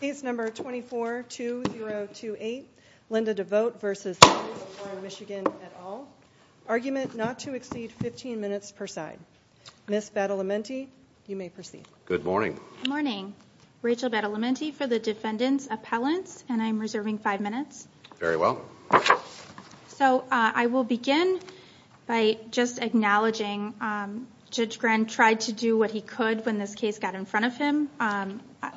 Case number 24-2028, Linda DeVooght v. City of Warren, MI et al. Argument not to exceed 15 minutes per side. Ms. Battalamenti, you may proceed. Good morning. Good morning. Rachel Battalamenti for the Defendant's Appellants, and I'm reserving 5 minutes. Very well. So, I will begin by just acknowledging Judge Grant tried to do what he could when this case got in front of him.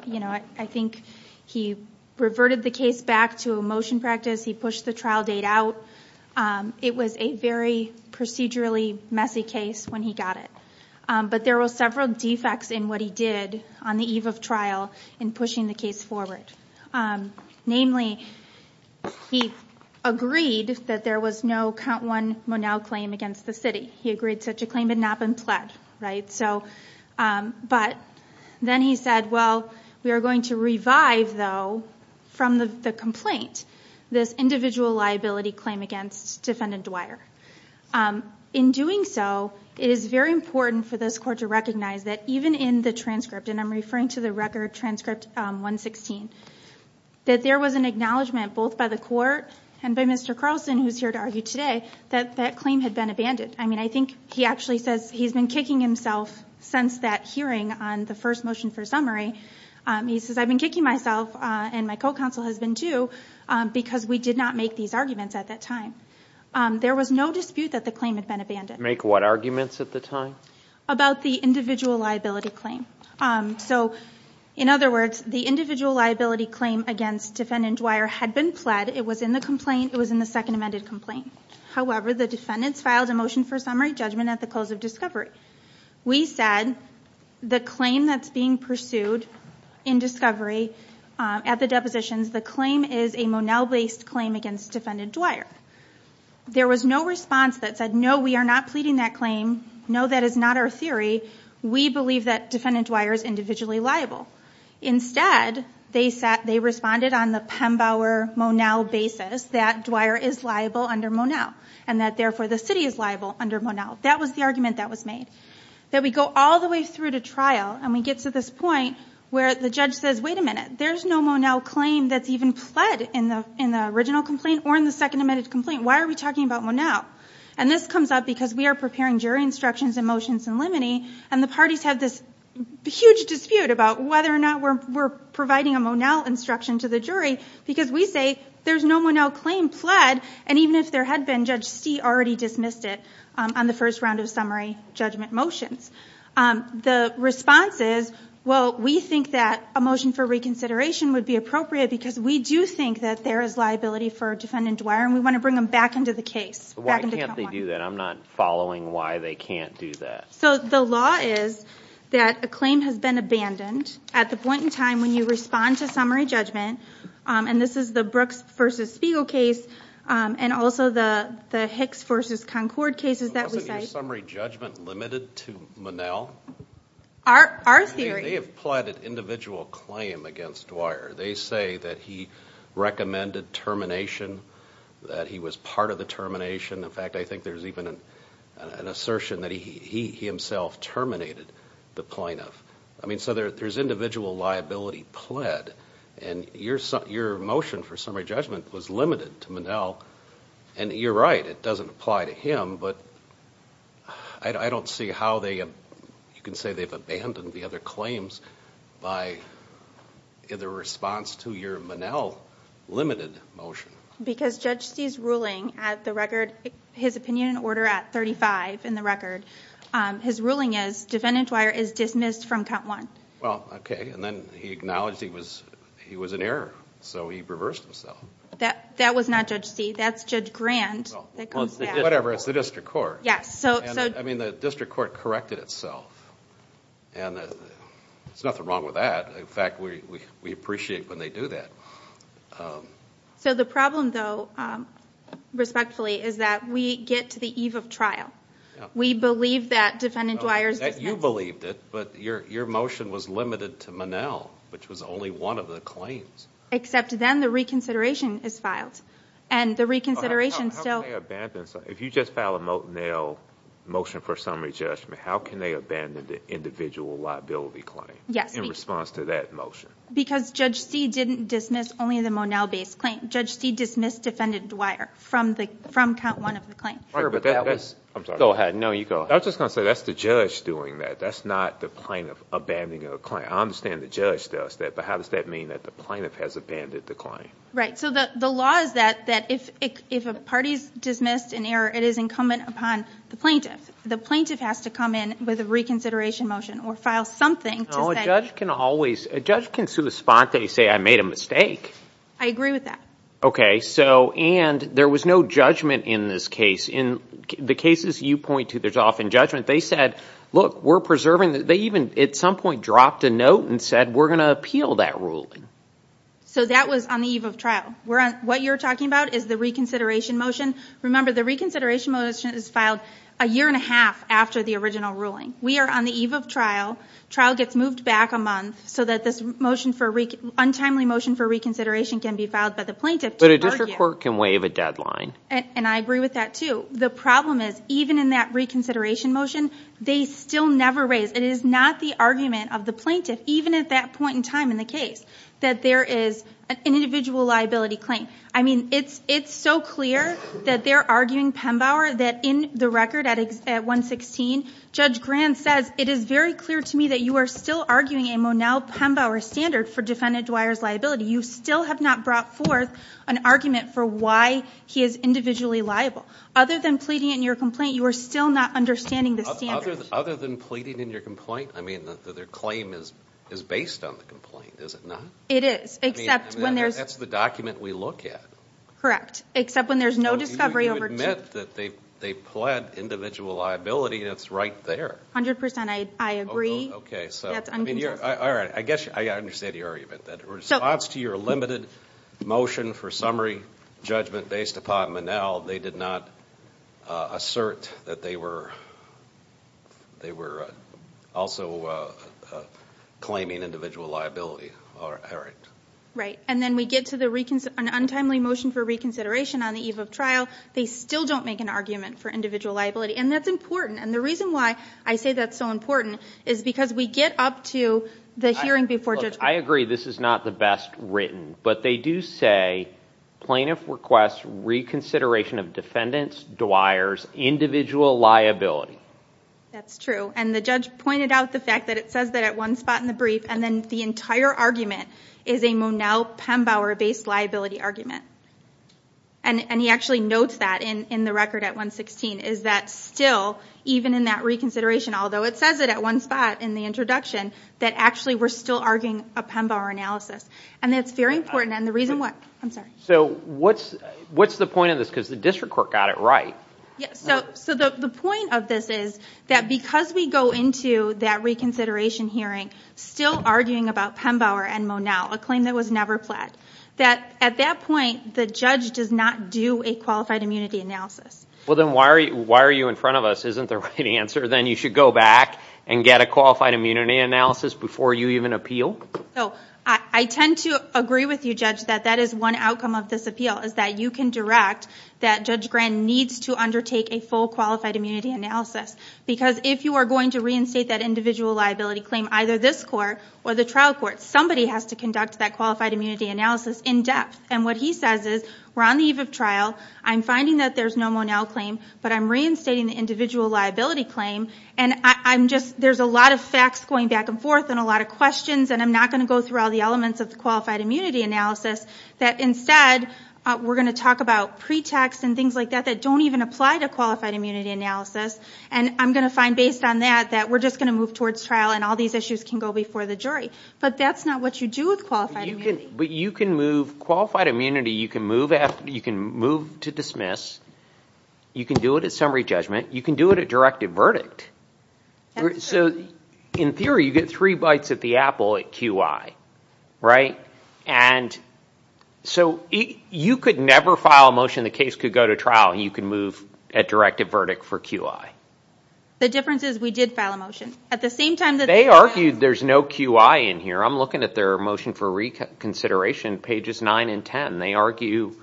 You know, I think he reverted the case back to a motion practice. He pushed the trial date out. It was a very procedurally messy case when he got it. But there were several defects in what he did on the eve of trial in pushing the case forward. Namely, he agreed that there was no count one Monell claim against the city. He agreed such a claim had not been pledged. But then he said, well, we are going to revive, though, from the complaint, this individual liability claim against Defendant Dwyer. In doing so, it is very important for this Court to recognize that even in the transcript, and I'm referring to the record transcript 116, that there was an acknowledgment both by the Court and by Mr. Carlson, who is here to argue today, that that claim had been abandoned. I mean, I think he actually says he's been kicking himself since that hearing on the first motion for summary. He says, I've been kicking myself, and my co-counsel has been too, because we did not make these arguments at that time. There was no dispute that the claim had been abandoned. Make what arguments at the time? About the individual liability claim. So, in other words, the individual liability claim against Defendant Dwyer had been pled. It was in the complaint. It was in the second amended complaint. However, the defendants filed a motion for summary judgment at the close of discovery. We said the claim that's being pursued in discovery at the depositions, the claim is a Monell-based claim against Defendant Dwyer. There was no response that said, no, we are not pleading that claim. No, that is not our theory. We believe that Defendant Dwyer is individually liable. Instead, they responded on the Pembauer-Monell basis that Dwyer is liable under Monell. And that, therefore, the city is liable under Monell. That was the argument that was made. That we go all the way through to trial, and we get to this point where the judge says, wait a minute. There's no Monell claim that's even pled in the original complaint or in the second amended complaint. Why are we talking about Monell? And this comes up because we are preparing jury instructions and motions in limine. And the parties have this huge dispute about whether or not we're providing a Monell instruction to the jury. Because we say there's no Monell claim pled. And even if there had been, Judge Stee already dismissed it on the first round of summary judgment motions. The response is, well, we think that a motion for reconsideration would be appropriate because we do think that there is liability for Defendant Dwyer, and we want to bring them back into the case. Why can't they do that? I'm not following why they can't do that. So the law is that a claim has been abandoned at the point in time when you respond to summary judgment. And this is the Brooks v. Spiegel case, and also the Hicks v. Concord cases that we cite. Wasn't your summary judgment limited to Monell? Our theory. They have pled an individual claim against Dwyer. They say that he recommended termination, that he was part of the termination. In fact, I think there's even an assertion that he himself terminated the plaintiff. I mean, so there's individual liability pled. And your motion for summary judgment was limited to Monell. And you're right, it doesn't apply to him. But I don't see how you can say they've abandoned the other claims by the response to your Monell limited motion. Because Judge C's ruling at the record, his opinion order at 35 in the record, his ruling is defendant Dwyer is dismissed from count one. Well, okay. And then he acknowledged he was an error, so he reversed himself. That was not Judge C, that's Judge Grant. Whatever, it's the district court. Yes. I mean, the district court corrected itself. And there's nothing wrong with that. In fact, we appreciate when they do that. So the problem, though, respectfully, is that we get to the eve of trial. We believe that defendant Dwyer is dismissed. You believed it, but your motion was limited to Monell, which was only one of the claims. Except then the reconsideration is filed. And the reconsideration still... If you just file a Monell motion for summary judgment, how can they abandon the individual liability claim in response to that motion? Because Judge C didn't dismiss only the Monell-based claim. Judge C dismissed defendant Dwyer from count one of the claims. Sure, but that was... I'm sorry. Go ahead. No, you go ahead. I was just going to say, that's the judge doing that. That's not the plaintiff abandoning a claim. I understand the judge does that, but how does that mean that the plaintiff has abandoned the claim? Right. So the law is that if a party is dismissed in error, it is incumbent upon the plaintiff. The plaintiff has to come in with a reconsideration motion or file something to say... A judge can always... A judge can sue a spot that you say, I made a mistake. I agree with that. Okay. So, and there was no judgment in this case. In the cases you point to, there's often judgment. They said, look, we're preserving... They even at some point dropped a note and said, we're going to appeal that ruling. So that was on the eve of trial. What you're talking about is the reconsideration motion. Remember, the reconsideration motion is filed a year and a half after the original ruling. We are on the eve of trial. Trial gets moved back a month so that this motion for... Untimely motion for reconsideration can be filed by the plaintiff to argue... But a district court can waive a deadline. And I agree with that too. The problem is, even in that reconsideration motion, they still never raise... It is not the argument of the plaintiff, even at that point in time in the case, that there is an individual liability claim. I mean, it's so clear that they're arguing, Penbauer, that in the record at 116, Judge Grant says, it is very clear to me that you are still arguing a Monel Penbauer standard for defendant Dwyer's liability. You still have not brought forth an argument for why he is individually liable. Other than pleading in your complaint, you are still not understanding the standard. Other than pleading in your complaint? I mean, their claim is based on the complaint, is it not? It is, except when there's... I mean, that's the document we look at. Correct. Except when there's no discovery over... I meant that they pled individual liability, and it's right there. A hundred percent, I agree. Okay, so... That's uncontested. All right. I guess I understand your argument. In response to your limited motion for summary judgment based upon Monel, they did not assert that they were also claiming individual liability. Right. And then we get to an untimely motion for reconsideration on the eve of trial. They still don't make an argument for individual liability. And that's important. And the reason why I say that's so important is because we get up to the hearing before Judge... Look, I agree this is not the best written, but they do say plaintiff requests reconsideration of defendant Dwyer's individual liability. That's true. And the judge pointed out the fact that it says that at one spot in the brief, and then the entire argument is a Monel Pembauer-based liability argument. And he actually notes that in the record at 116, is that still, even in that reconsideration, although it says it at one spot in the introduction, that actually we're still arguing a Pembauer analysis. And that's very important. And the reason why... I'm sorry. So what's the point of this? Because the district court got it right. So the point of this is that because we go into that reconsideration hearing still arguing about Pembauer and Monel, a claim that was never pledged, that at that point the judge does not do a qualified immunity analysis. Well, then why are you in front of us? Isn't there a better answer than you should go back and get a qualified immunity analysis before you even appeal? I tend to agree with you, Judge, that that is one outcome of this appeal, is that you can direct that Judge Grant needs to undertake a full qualified immunity analysis. Because if you are going to reinstate that individual liability claim, either this court or the trial court, somebody has to conduct that qualified immunity analysis in depth. And what he says is, we're on the eve of trial, I'm finding that there's no Monel claim, but I'm reinstating the individual liability claim, and there's a lot of facts going back and forth and a lot of questions, and I'm not going to go through all the elements of the qualified immunity analysis, that instead we're going to talk about pretext and things like that that don't even apply to qualified immunity analysis. And I'm going to find, based on that, that we're just going to move towards trial and all these issues can go before the jury. But that's not what you do with qualified immunity. But you can move qualified immunity, you can move to dismiss, you can do it at summary judgment, you can do it at directive verdict. That's correct. So, in theory, you get three bites at the apple at QI, right? And so you could never file a motion the case could go to trial and you can move at directive verdict for QI. The difference is we did file a motion. They argued there's no QI in here. I'm looking at their motion for reconsideration, pages 9 and 10. They argue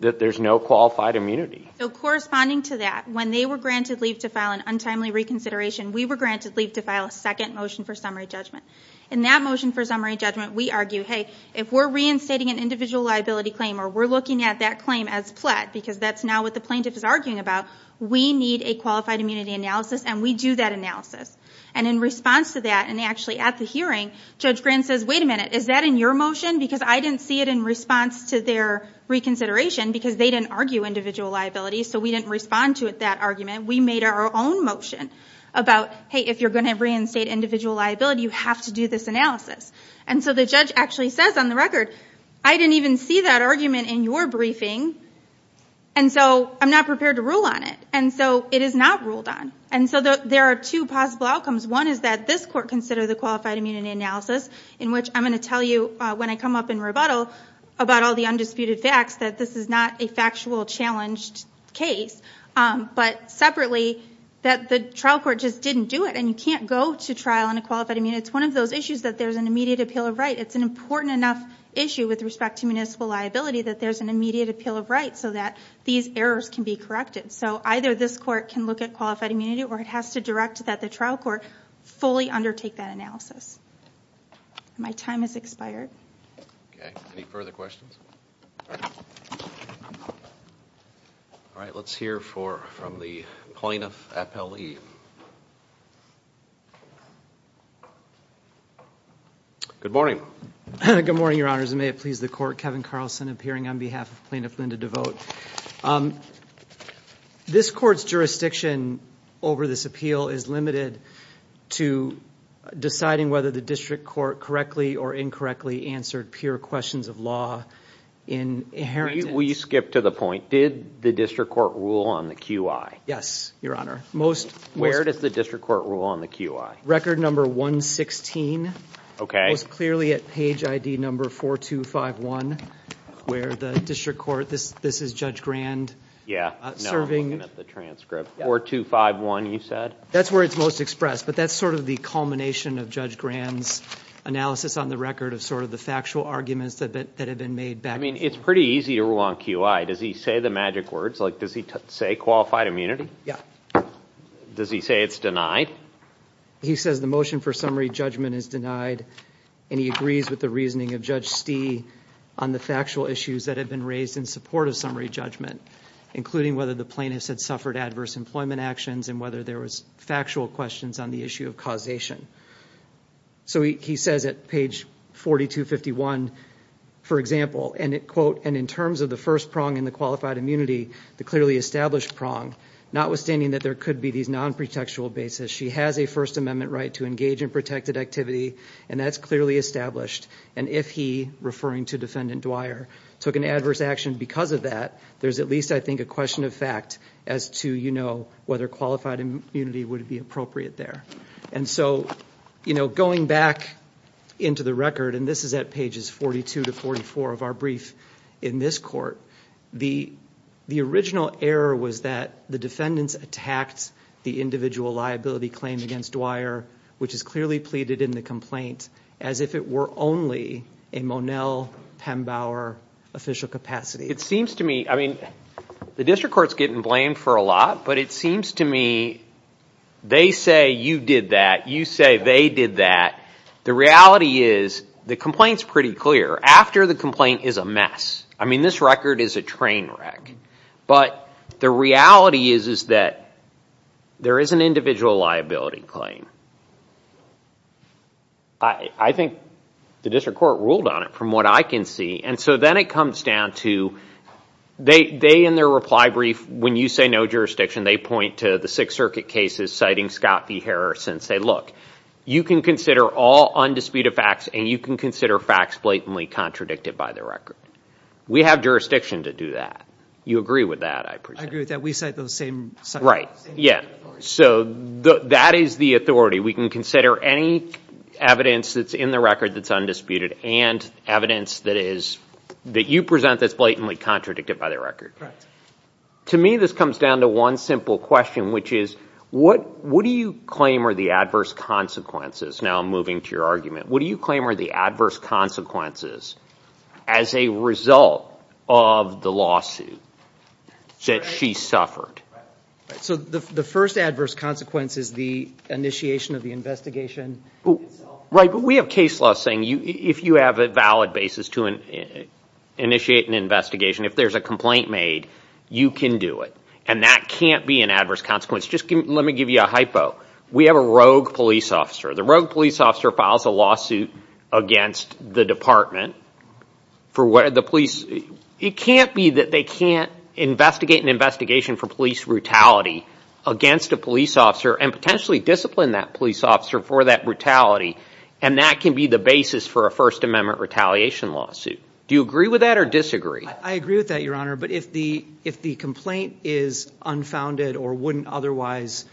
that there's no qualified immunity. So corresponding to that, when they were granted leave to file an untimely reconsideration, we were granted leave to file a second motion for summary judgment. In that motion for summary judgment, we argue, hey, if we're reinstating an individual liability claim or we're looking at that claim as pled, because that's now what the plaintiff is arguing about, we need a qualified immunity analysis and we do that analysis. And in response to that, and actually at the hearing, Judge Grant says, wait a minute, is that in your motion? Because I didn't see it in response to their reconsideration because they didn't argue individual liability, so we didn't respond to that argument. We made our own motion about, hey, if you're going to reinstate individual liability, you have to do this analysis. And so the judge actually says on the record, I didn't even see that argument in your briefing, and so I'm not prepared to rule on it. And so it is not ruled on. And so there are two possible outcomes. One is that this court consider the qualified immunity analysis, in which I'm going to tell you when I come up in rebuttal about all the undisputed facts that this is not a factual challenged case, but separately that the trial court just didn't do it and you can't go to trial on a qualified immunity. And it's one of those issues that there's an immediate appeal of right. It's an important enough issue with respect to municipal liability that there's an immediate appeal of right so that these errors can be corrected. So either this court can look at qualified immunity or it has to direct that the trial court fully undertake that analysis. My time has expired. Okay. Any further questions? All right. Let's hear from the plaintiff, Appellee. Good morning. Good morning, Your Honors. And may it please the court, Kevin Carlson, appearing on behalf of Plaintiff Linda Devote. This court's jurisdiction over this appeal is limited to deciding whether the district court correctly or incorrectly answered pure questions of law in inheritance. Will you skip to the point? Did the district court rule on the QI? Yes, Your Honor. Where does the district court rule on the QI? Record number 116. It was clearly at page ID number 4251 where the district court, this is Judge Grand, serving. Yeah, no, I'm looking at the transcript. 4251, you said? That's where it's most expressed, but that's sort of the culmination of Judge Grand's analysis on the record of sort of the factual arguments that have been made back then. I mean, it's pretty easy to rule on QI. Does he say the magic words? Like, does he say qualified immunity? Yeah. Does he say it's denied? He says the motion for summary judgment is denied, and he agrees with the reasoning of Judge Stee on the factual issues that have been raised in support of summary judgment, including whether the plaintiffs had suffered adverse employment actions and whether there was factual questions on the issue of causation. So he says at page 4251, for example, and in terms of the first prong in the qualified immunity, the clearly established prong, notwithstanding that there could be these non-pretextual bases, she has a First Amendment right to engage in protected activity, and that's clearly established. And if he, referring to Defendant Dwyer, took an adverse action because of that, there's at least, I think, a question of fact as to, you know, whether qualified immunity would be appropriate there. And so, you know, going back into the record, and this is at pages 42 to 44 of our brief in this court, the original error was that the defendants attacked the individual liability claim against Dwyer, which is clearly pleaded in the complaint, as if it were only a Monel Pembauer official capacity. It seems to me, I mean, the district court's getting blamed for a lot, but it seems to me they say you did that, you say they did that. The reality is the complaint's pretty clear. After the complaint is a mess. I mean, this record is a train wreck. But the reality is that there is an individual liability claim. I think the district court ruled on it, from what I can see. And so then it comes down to they, in their reply brief, when you say no jurisdiction, they point to the Sixth Circuit cases, citing Scott v. Harrison, and say, look, you can consider all undisputed facts and you can consider facts blatantly contradicted by the record. We have jurisdiction to do that. You agree with that, I presume. I agree with that. We cite those same facts. Right, yeah. So that is the authority. We can consider any evidence that's in the record that's undisputed and evidence that you present that's blatantly contradicted by the record. Right. To me, this comes down to one simple question, which is, what do you claim are the adverse consequences? Now I'm moving to your argument. What do you claim are the adverse consequences as a result of the lawsuit that she suffered? So the first adverse consequence is the initiation of the investigation itself? Right, but we have case law saying if you have a valid basis to initiate an investigation, if there's a complaint made, you can do it. And that can't be an adverse consequence. Just let me give you a hypo. We have a rogue police officer. The rogue police officer files a lawsuit against the department for the police. It can't be that they can't investigate an investigation for police brutality against a police officer and potentially discipline that police officer for that brutality, and that can be the basis for a First Amendment retaliation lawsuit. Do you agree with that or disagree? I agree with that, Your Honor, but if the complaint is unfounded or wouldn't otherwise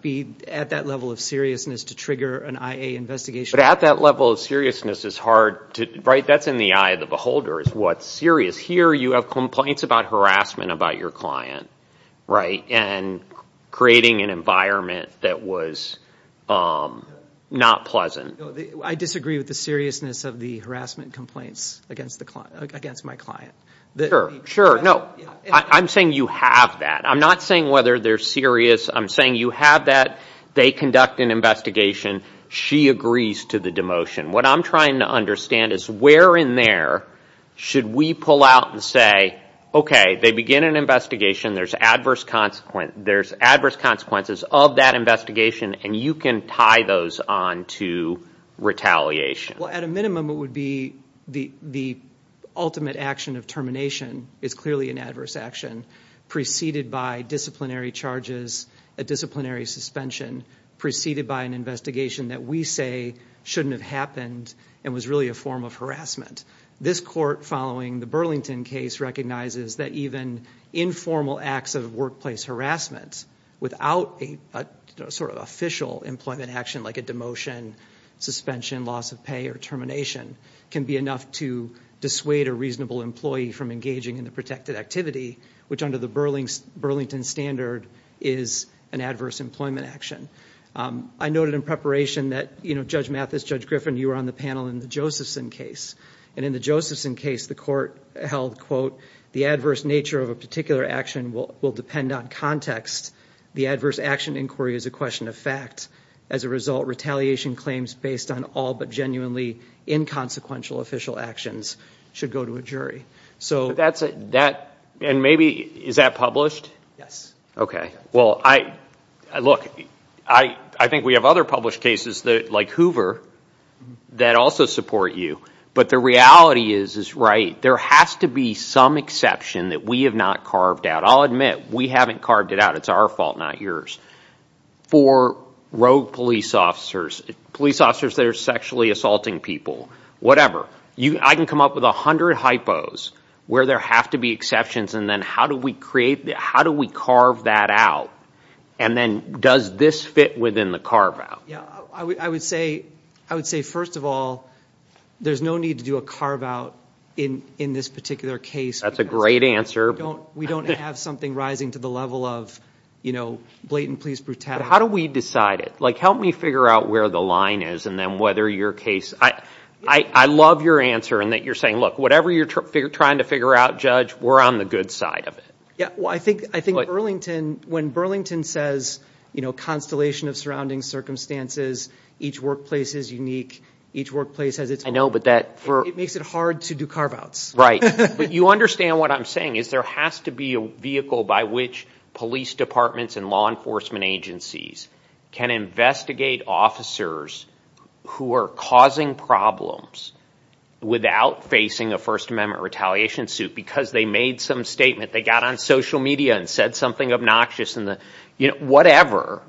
be at that level of seriousness to trigger an IA investigation. But at that level of seriousness, that's in the eye of the beholder is what's serious. Here you have complaints about harassment about your client, right, and creating an environment that was not pleasant. I disagree with the seriousness of the harassment complaints against my client. Sure, sure. No, I'm saying you have that. I'm not saying whether they're serious. I'm saying you have that. They conduct an investigation. She agrees to the demotion. What I'm trying to understand is where in there should we pull out and say, okay, they begin an investigation. There's adverse consequences of that investigation, and you can tie those on to retaliation. Well, at a minimum, it would be the ultimate action of termination is clearly an adverse action preceded by disciplinary charges, a disciplinary suspension, preceded by an investigation that we say shouldn't have happened and was really a form of harassment. This court following the Burlington case recognizes that even informal acts of workplace harassment without a sort of official employment action, like a demotion, suspension, loss of pay, or termination, can be enough to dissuade a reasonable employee from engaging in the protected activity, which under the Burlington standard is an adverse employment action. I noted in preparation that, you know, Judge Mathis, Judge Griffin, you were on the panel in the Josephson case, and in the Josephson case the court held, quote, the adverse nature of a particular action will depend on context. The adverse action inquiry is a question of fact. As a result, retaliation claims based on all but genuinely inconsequential official actions should go to a jury. And maybe is that published? Yes. Well, look, I think we have other published cases like Hoover that also support you, but the reality is, is, right, there has to be some exception that we have not carved out. I'll admit, we haven't carved it out. It's our fault, not yours. For rogue police officers, police officers that are sexually assaulting people, whatever, I can come up with a hundred hypos where there have to be exceptions, and then how do we create, how do we carve that out? And then does this fit within the carve out? I would say, first of all, there's no need to do a carve out in this particular case. That's a great answer. We don't have something rising to the level of, you know, blatant police brutality. How do we decide it? Like, help me figure out where the line is and then whether your case, I love your answer in that you're saying, look, whatever you're trying to figure out, Judge, we're on the good side of it. Well, I think Burlington, when Burlington says, you know, constellation of surrounding circumstances, each workplace is unique, each workplace has its own, it makes it hard to do carve outs. Right. But you understand what I'm saying is there has to be a vehicle by which police departments and law enforcement agencies can investigate officers who are causing problems without facing a First Amendment retaliation suit because they made some statement, they got on social media and said something obnoxious, whatever,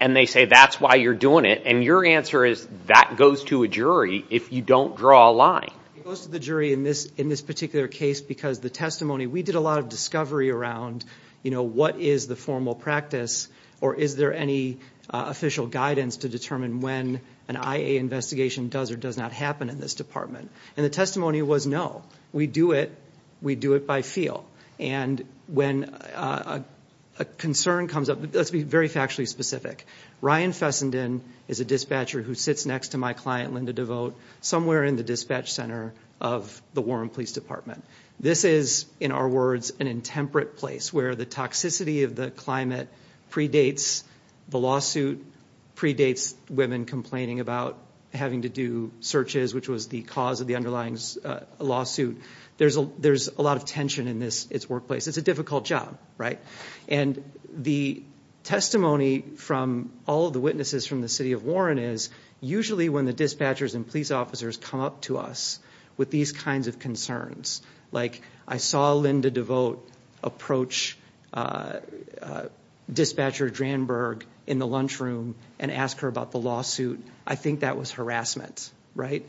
and they say that's why you're doing it. And your answer is that goes to a jury if you don't draw a line. It goes to the jury in this particular case because the testimony, we did a lot of discovery around, you know, what is the formal practice or is there any official guidance to determine when an IA investigation does or does not happen in this department. And the testimony was no, we do it, we do it by feel. And when a concern comes up, let's be very factually specific, Ryan Fessenden is a dispatcher who sits next to my client, Linda Devote, somewhere in the dispatch center of the Warren Police Department. This is, in our words, an intemperate place where the toxicity of the climate predates the lawsuit, predates women complaining about having to do searches, which was the cause of the underlying lawsuit. There's a lot of tension in this workplace. It's a difficult job, right? And the testimony from all of the witnesses from the city of Warren is usually when the dispatchers and police officers come up to us with these kinds of concerns, like I saw Linda Devote approach Dispatcher Dranberg in the lunchroom and ask her about the lawsuit, I think that was harassment, right?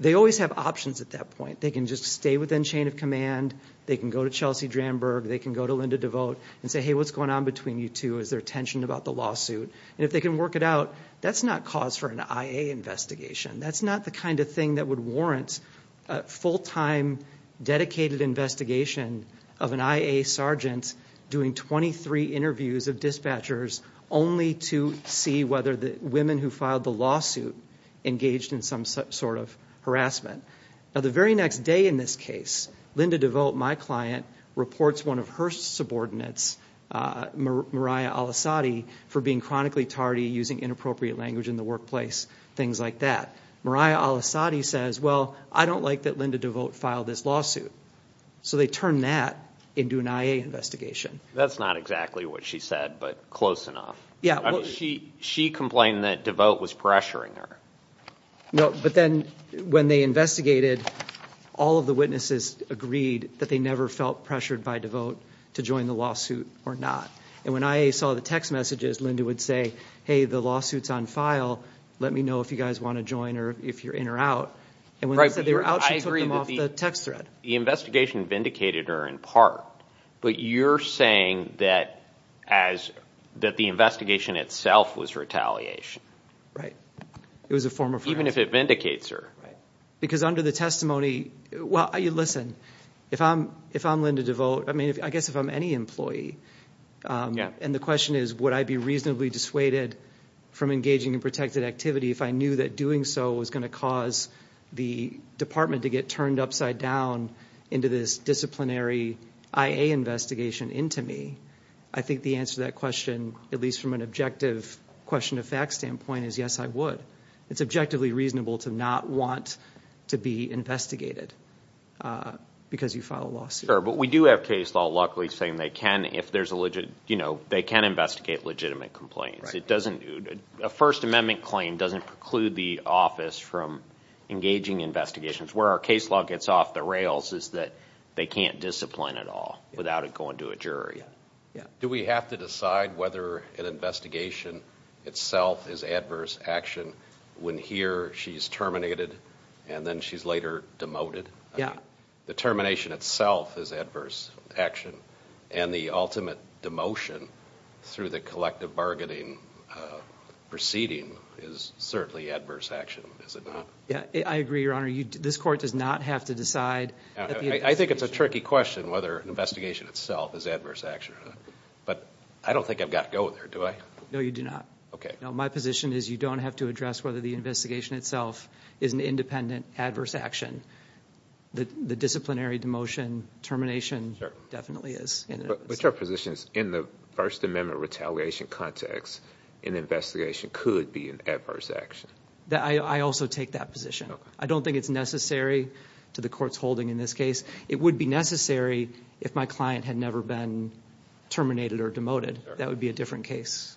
They always have options at that point. They can just stay within chain of command. They can go to Chelsea Dranberg. They can go to Linda Devote and say, hey, what's going on between you two? Is there tension about the lawsuit? And if they can work it out, that's not cause for an IA investigation. That's not the kind of thing that would warrant a full-time dedicated investigation of an IA sergeant doing 23 interviews of dispatchers only to see whether the women who filed the lawsuit engaged in some sort of harassment. Now, the very next day in this case, Linda Devote, my client, reports one of her subordinates, Mariah Al-Assadi, for being chronically tardy, using inappropriate language in the workplace, things like that. Mariah Al-Assadi says, well, I don't like that Linda Devote filed this lawsuit. So they turn that into an IA investigation. That's not exactly what she said, but close enough. She complained that Devote was pressuring her. No, but then when they investigated, all of the witnesses agreed that they never felt pressured by Devote to join the lawsuit or not. And when IA saw the text messages, Linda would say, hey, the lawsuit's on file. Let me know if you guys want to join or if you're in or out. And when they said they were out, she took them off the text thread. The investigation vindicated her in part. But you're saying that the investigation itself was retaliation. Right. It was a form of retaliation. Even if it vindicates her. Because under the testimony, well, listen, if I'm Linda Devote, I guess if I'm any employee, and the question is would I be reasonably dissuaded from engaging in protected activity if I knew that doing so was going to cause the department to get turned upside down into this disciplinary IA investigation into me, I think the answer to that question, at least from an objective question of fact standpoint, is yes, I would. It's objectively reasonable to not want to be investigated because you filed a lawsuit. Sure, but we do have case law, luckily, saying they can investigate legitimate complaints. A First Amendment claim doesn't preclude the office from engaging in investigations. Where our case law gets off the rails is that they can't discipline at all without it going to a jury. Do we have to decide whether an investigation itself is adverse action when here she's terminated and then she's later demoted? Yeah. The termination itself is adverse action. And the ultimate demotion through the collective bargaining proceeding is certainly adverse action, is it not? Yeah, I agree, Your Honor. This court does not have to decide. I think it's a tricky question whether an investigation itself is adverse action. But I don't think I've got to go there, do I? No, you do not. Okay. No, my position is you don't have to address whether the investigation itself is an independent adverse action. The disciplinary demotion termination definitely is. But your position is in the First Amendment retaliation context, an investigation could be an adverse action. I also take that position. I don't think it's necessary to the court's holding in this case. It would be necessary if my client had never been terminated or demoted. That would be a different case.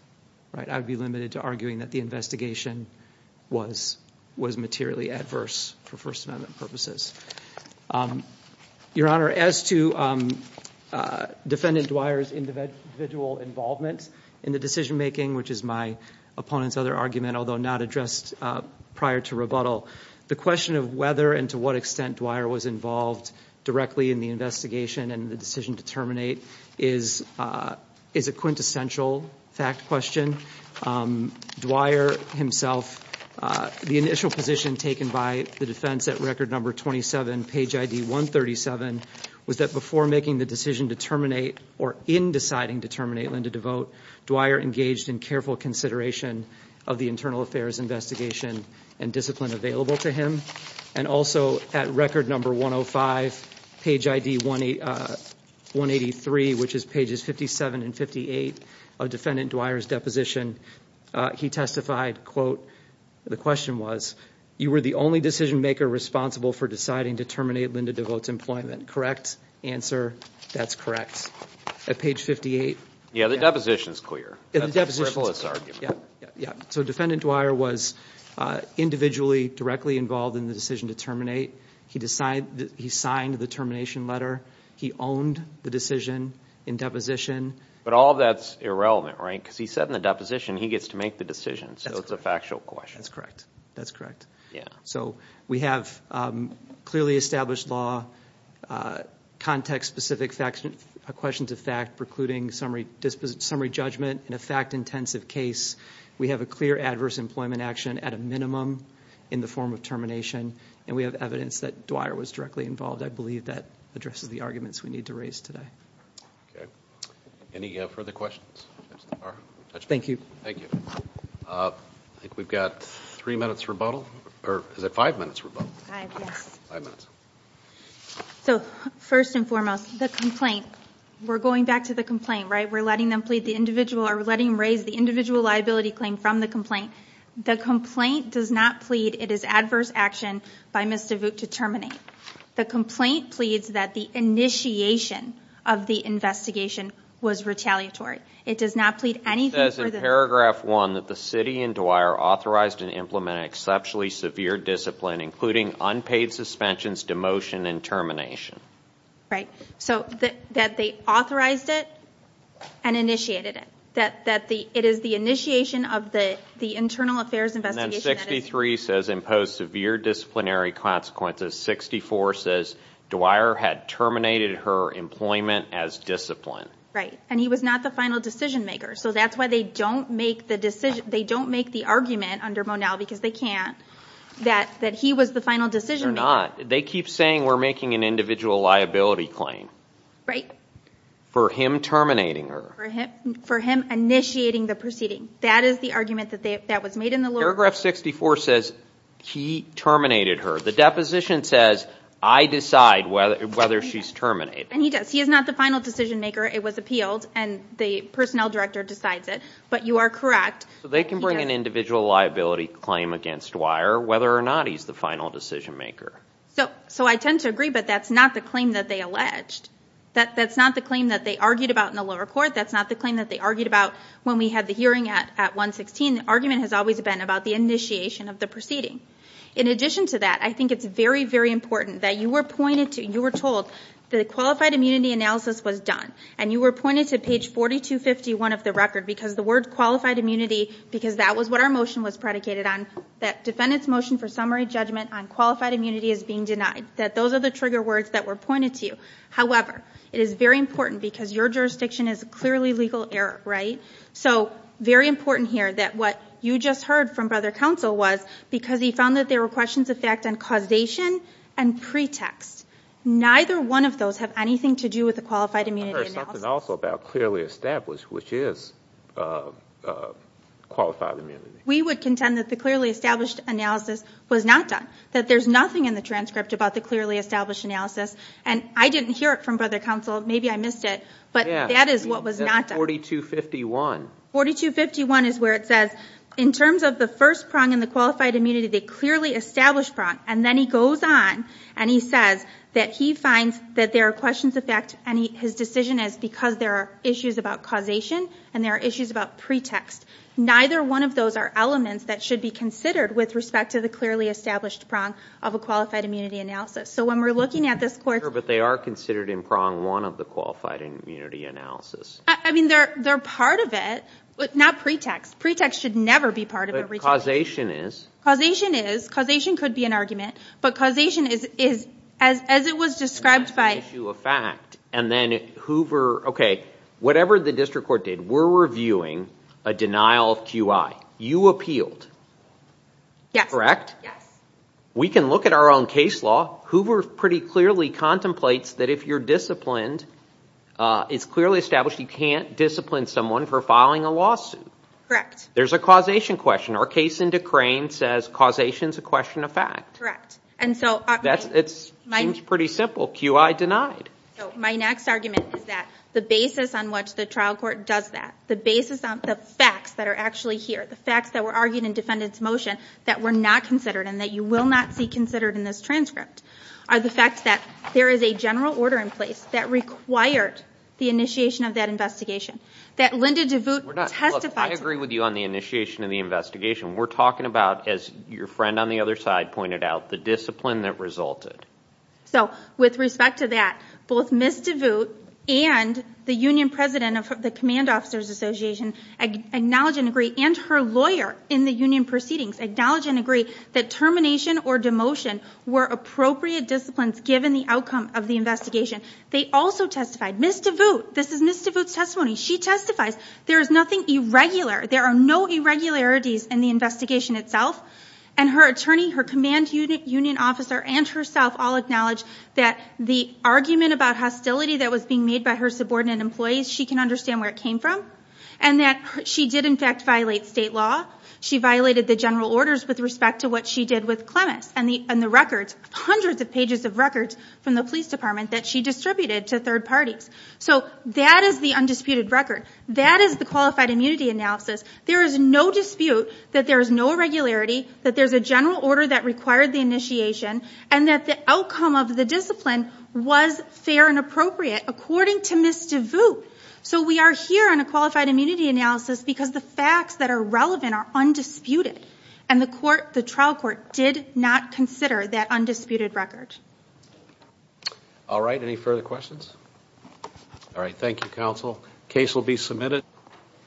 I would be limited to arguing that the investigation was materially adverse for First Amendment purposes. Your Honor, as to Defendant Dwyer's individual involvement in the decision-making, which is my opponent's other argument, although not addressed prior to rebuttal, the question of whether and to what extent Dwyer was involved directly in the investigation and the decision to terminate is a quintessential fact question. Dwyer himself, the initial position taken by the defense at record number 27, page ID 137, was that before making the decision to terminate or in deciding to terminate Linda DeVote, Dwyer engaged in careful consideration of the internal affairs investigation and discipline available to him. And also at record number 105, page ID 183, which is pages 57 and 58 of Defendant Dwyer's deposition, he testified, quote, the question was, you were the only decision-maker responsible for deciding to terminate Linda DeVote's employment. Correct? Answer? That's correct. At page 58. Yeah, the deposition is clear. Yeah, the deposition is clear. So Defendant Dwyer was individually directly involved in the decision to terminate. He signed the termination letter. He owned the decision in deposition. But all of that's irrelevant, right? Because he said in the deposition he gets to make the decision, so it's a factual question. That's correct. That's correct. Yeah. So we have clearly established law, context-specific questions of fact precluding summary judgment in a fact-intensive case. We have a clear adverse employment action at a minimum in the form of termination, and we have evidence that Dwyer was directly involved. I believe that addresses the arguments we need to raise today. Okay. Any further questions? Thank you. Thank you. I think we've got three minutes rebuttal, or is it five minutes rebuttal? Five, yes. Five minutes. So first and foremost, the complaint. We're going back to the complaint, right? We're letting them raise the individual liability claim from the complaint. The complaint does not plead it is adverse action by Ms. DeVote to terminate. The complaint pleads that the initiation of the investigation was retaliatory. It does not plead anything for the Paragraph 1, that the city and Dwyer authorized and implemented exceptionally severe discipline, including unpaid suspensions, demotion, and termination. Right. So that they authorized it and initiated it. That it is the initiation of the internal affairs investigation. And then 63 says impose severe disciplinary consequences. 64 says Dwyer had terminated her employment as disciplined. Right. And he was not the final decision maker. So that's why they don't make the argument under Monell, because they can't, that he was the final decision maker. They're not. They keep saying we're making an individual liability claim. Right. For him terminating her. For him initiating the proceeding. That is the argument that was made in the lawyer. Paragraph 64 says he terminated her. The deposition says I decide whether she's terminated. And he does. He is not the final decision maker. It was appealed, and the personnel director decides it. But you are correct. So they can bring an individual liability claim against Dwyer, whether or not he's the final decision maker. So I tend to agree, but that's not the claim that they alleged. That's not the claim that they argued about in the lower court. That's not the claim that they argued about when we had the hearing at 116. The argument has always been about the initiation of the proceeding. In addition to that, I think it's very, very important that you were pointed to, you were told the qualified immunity analysis was done. And you were pointed to page 4251 of the record, because the word qualified immunity, because that was what our motion was predicated on, that defendant's motion for summary judgment on qualified immunity is being denied. That those are the trigger words that were pointed to you. However, it is very important because your jurisdiction is clearly legal error. Right. So very important here that what you just heard from Brother Counsel was because he found that there were questions of fact and causation and pretext. Neither one of those have anything to do with the qualified immunity analysis. I heard something also about clearly established, which is qualified immunity. We would contend that the clearly established analysis was not done, that there's nothing in the transcript about the clearly established analysis. And I didn't hear it from Brother Counsel. Maybe I missed it, but that is what was not done. Yeah, that's 4251. 4251 is where it says, in terms of the first prong in the qualified immunity, the clearly established prong. And then he goes on, and he says that he finds that there are questions of fact, and his decision is because there are issues about causation, and there are issues about pretext. Neither one of those are elements that should be considered with respect to the clearly established prong of a qualified immunity analysis. So when we're looking at this court's... Sure, but they are considered in prong one of the qualified immunity analysis. I mean, they're part of it. Not pretext. Pretext should never be part of a retrial. But causation is. Causation is. Causation could be an argument. But causation is, as it was described by... Issue of fact. And then Hoover, okay, whatever the district court did, we're reviewing a denial of QI. You appealed. Yes. Correct? Yes. We can look at our own case law. Hoover pretty clearly contemplates that if you're disciplined, it's clearly established you can't discipline someone for filing a lawsuit. There's a causation question. Our case in Decrain says causation is a question of fact. Correct. It seems pretty simple. QI denied. So my next argument is that the basis on which the trial court does that, the basis on the facts that are actually here, the facts that were argued in defendant's motion that were not considered and that you will not see considered in this transcript, are the facts that there is a general order in place that required the initiation of that investigation. That Linda DeVoot testified... Look, I agree with you on the initiation of the investigation. We're talking about, as your friend on the other side pointed out, the discipline that resulted. So with respect to that, both Ms. DeVoot and the union president of the Command Officers Association acknowledge and agree, and her lawyer in the union proceedings, acknowledge and agree that termination or demotion were appropriate disciplines given the outcome of the investigation. They also testified. Ms. DeVoot, this is Ms. DeVoot's testimony. She testifies. There is nothing irregular. There are no irregularities in the investigation itself. And her attorney, her command union officer, and herself all acknowledge that the argument about hostility that was being made by her subordinate employees, she can understand where it came from, and that she did in fact violate state law. She violated the general orders with respect to what she did with Clemmis and the records, hundreds of pages of records from the police department that she distributed to third parties. So that is the undisputed record. That is the qualified immunity analysis. There is no dispute that there is no irregularity, that there's a general order that required the initiation, and that the outcome of the discipline was fair and appropriate, according to Ms. DeVoot. So we are here on a qualified immunity analysis because the facts that are there are undisputed, and the trial court did not consider that undisputed record. All right. Any further questions? All right. Thank you, counsel. Case will be submitted.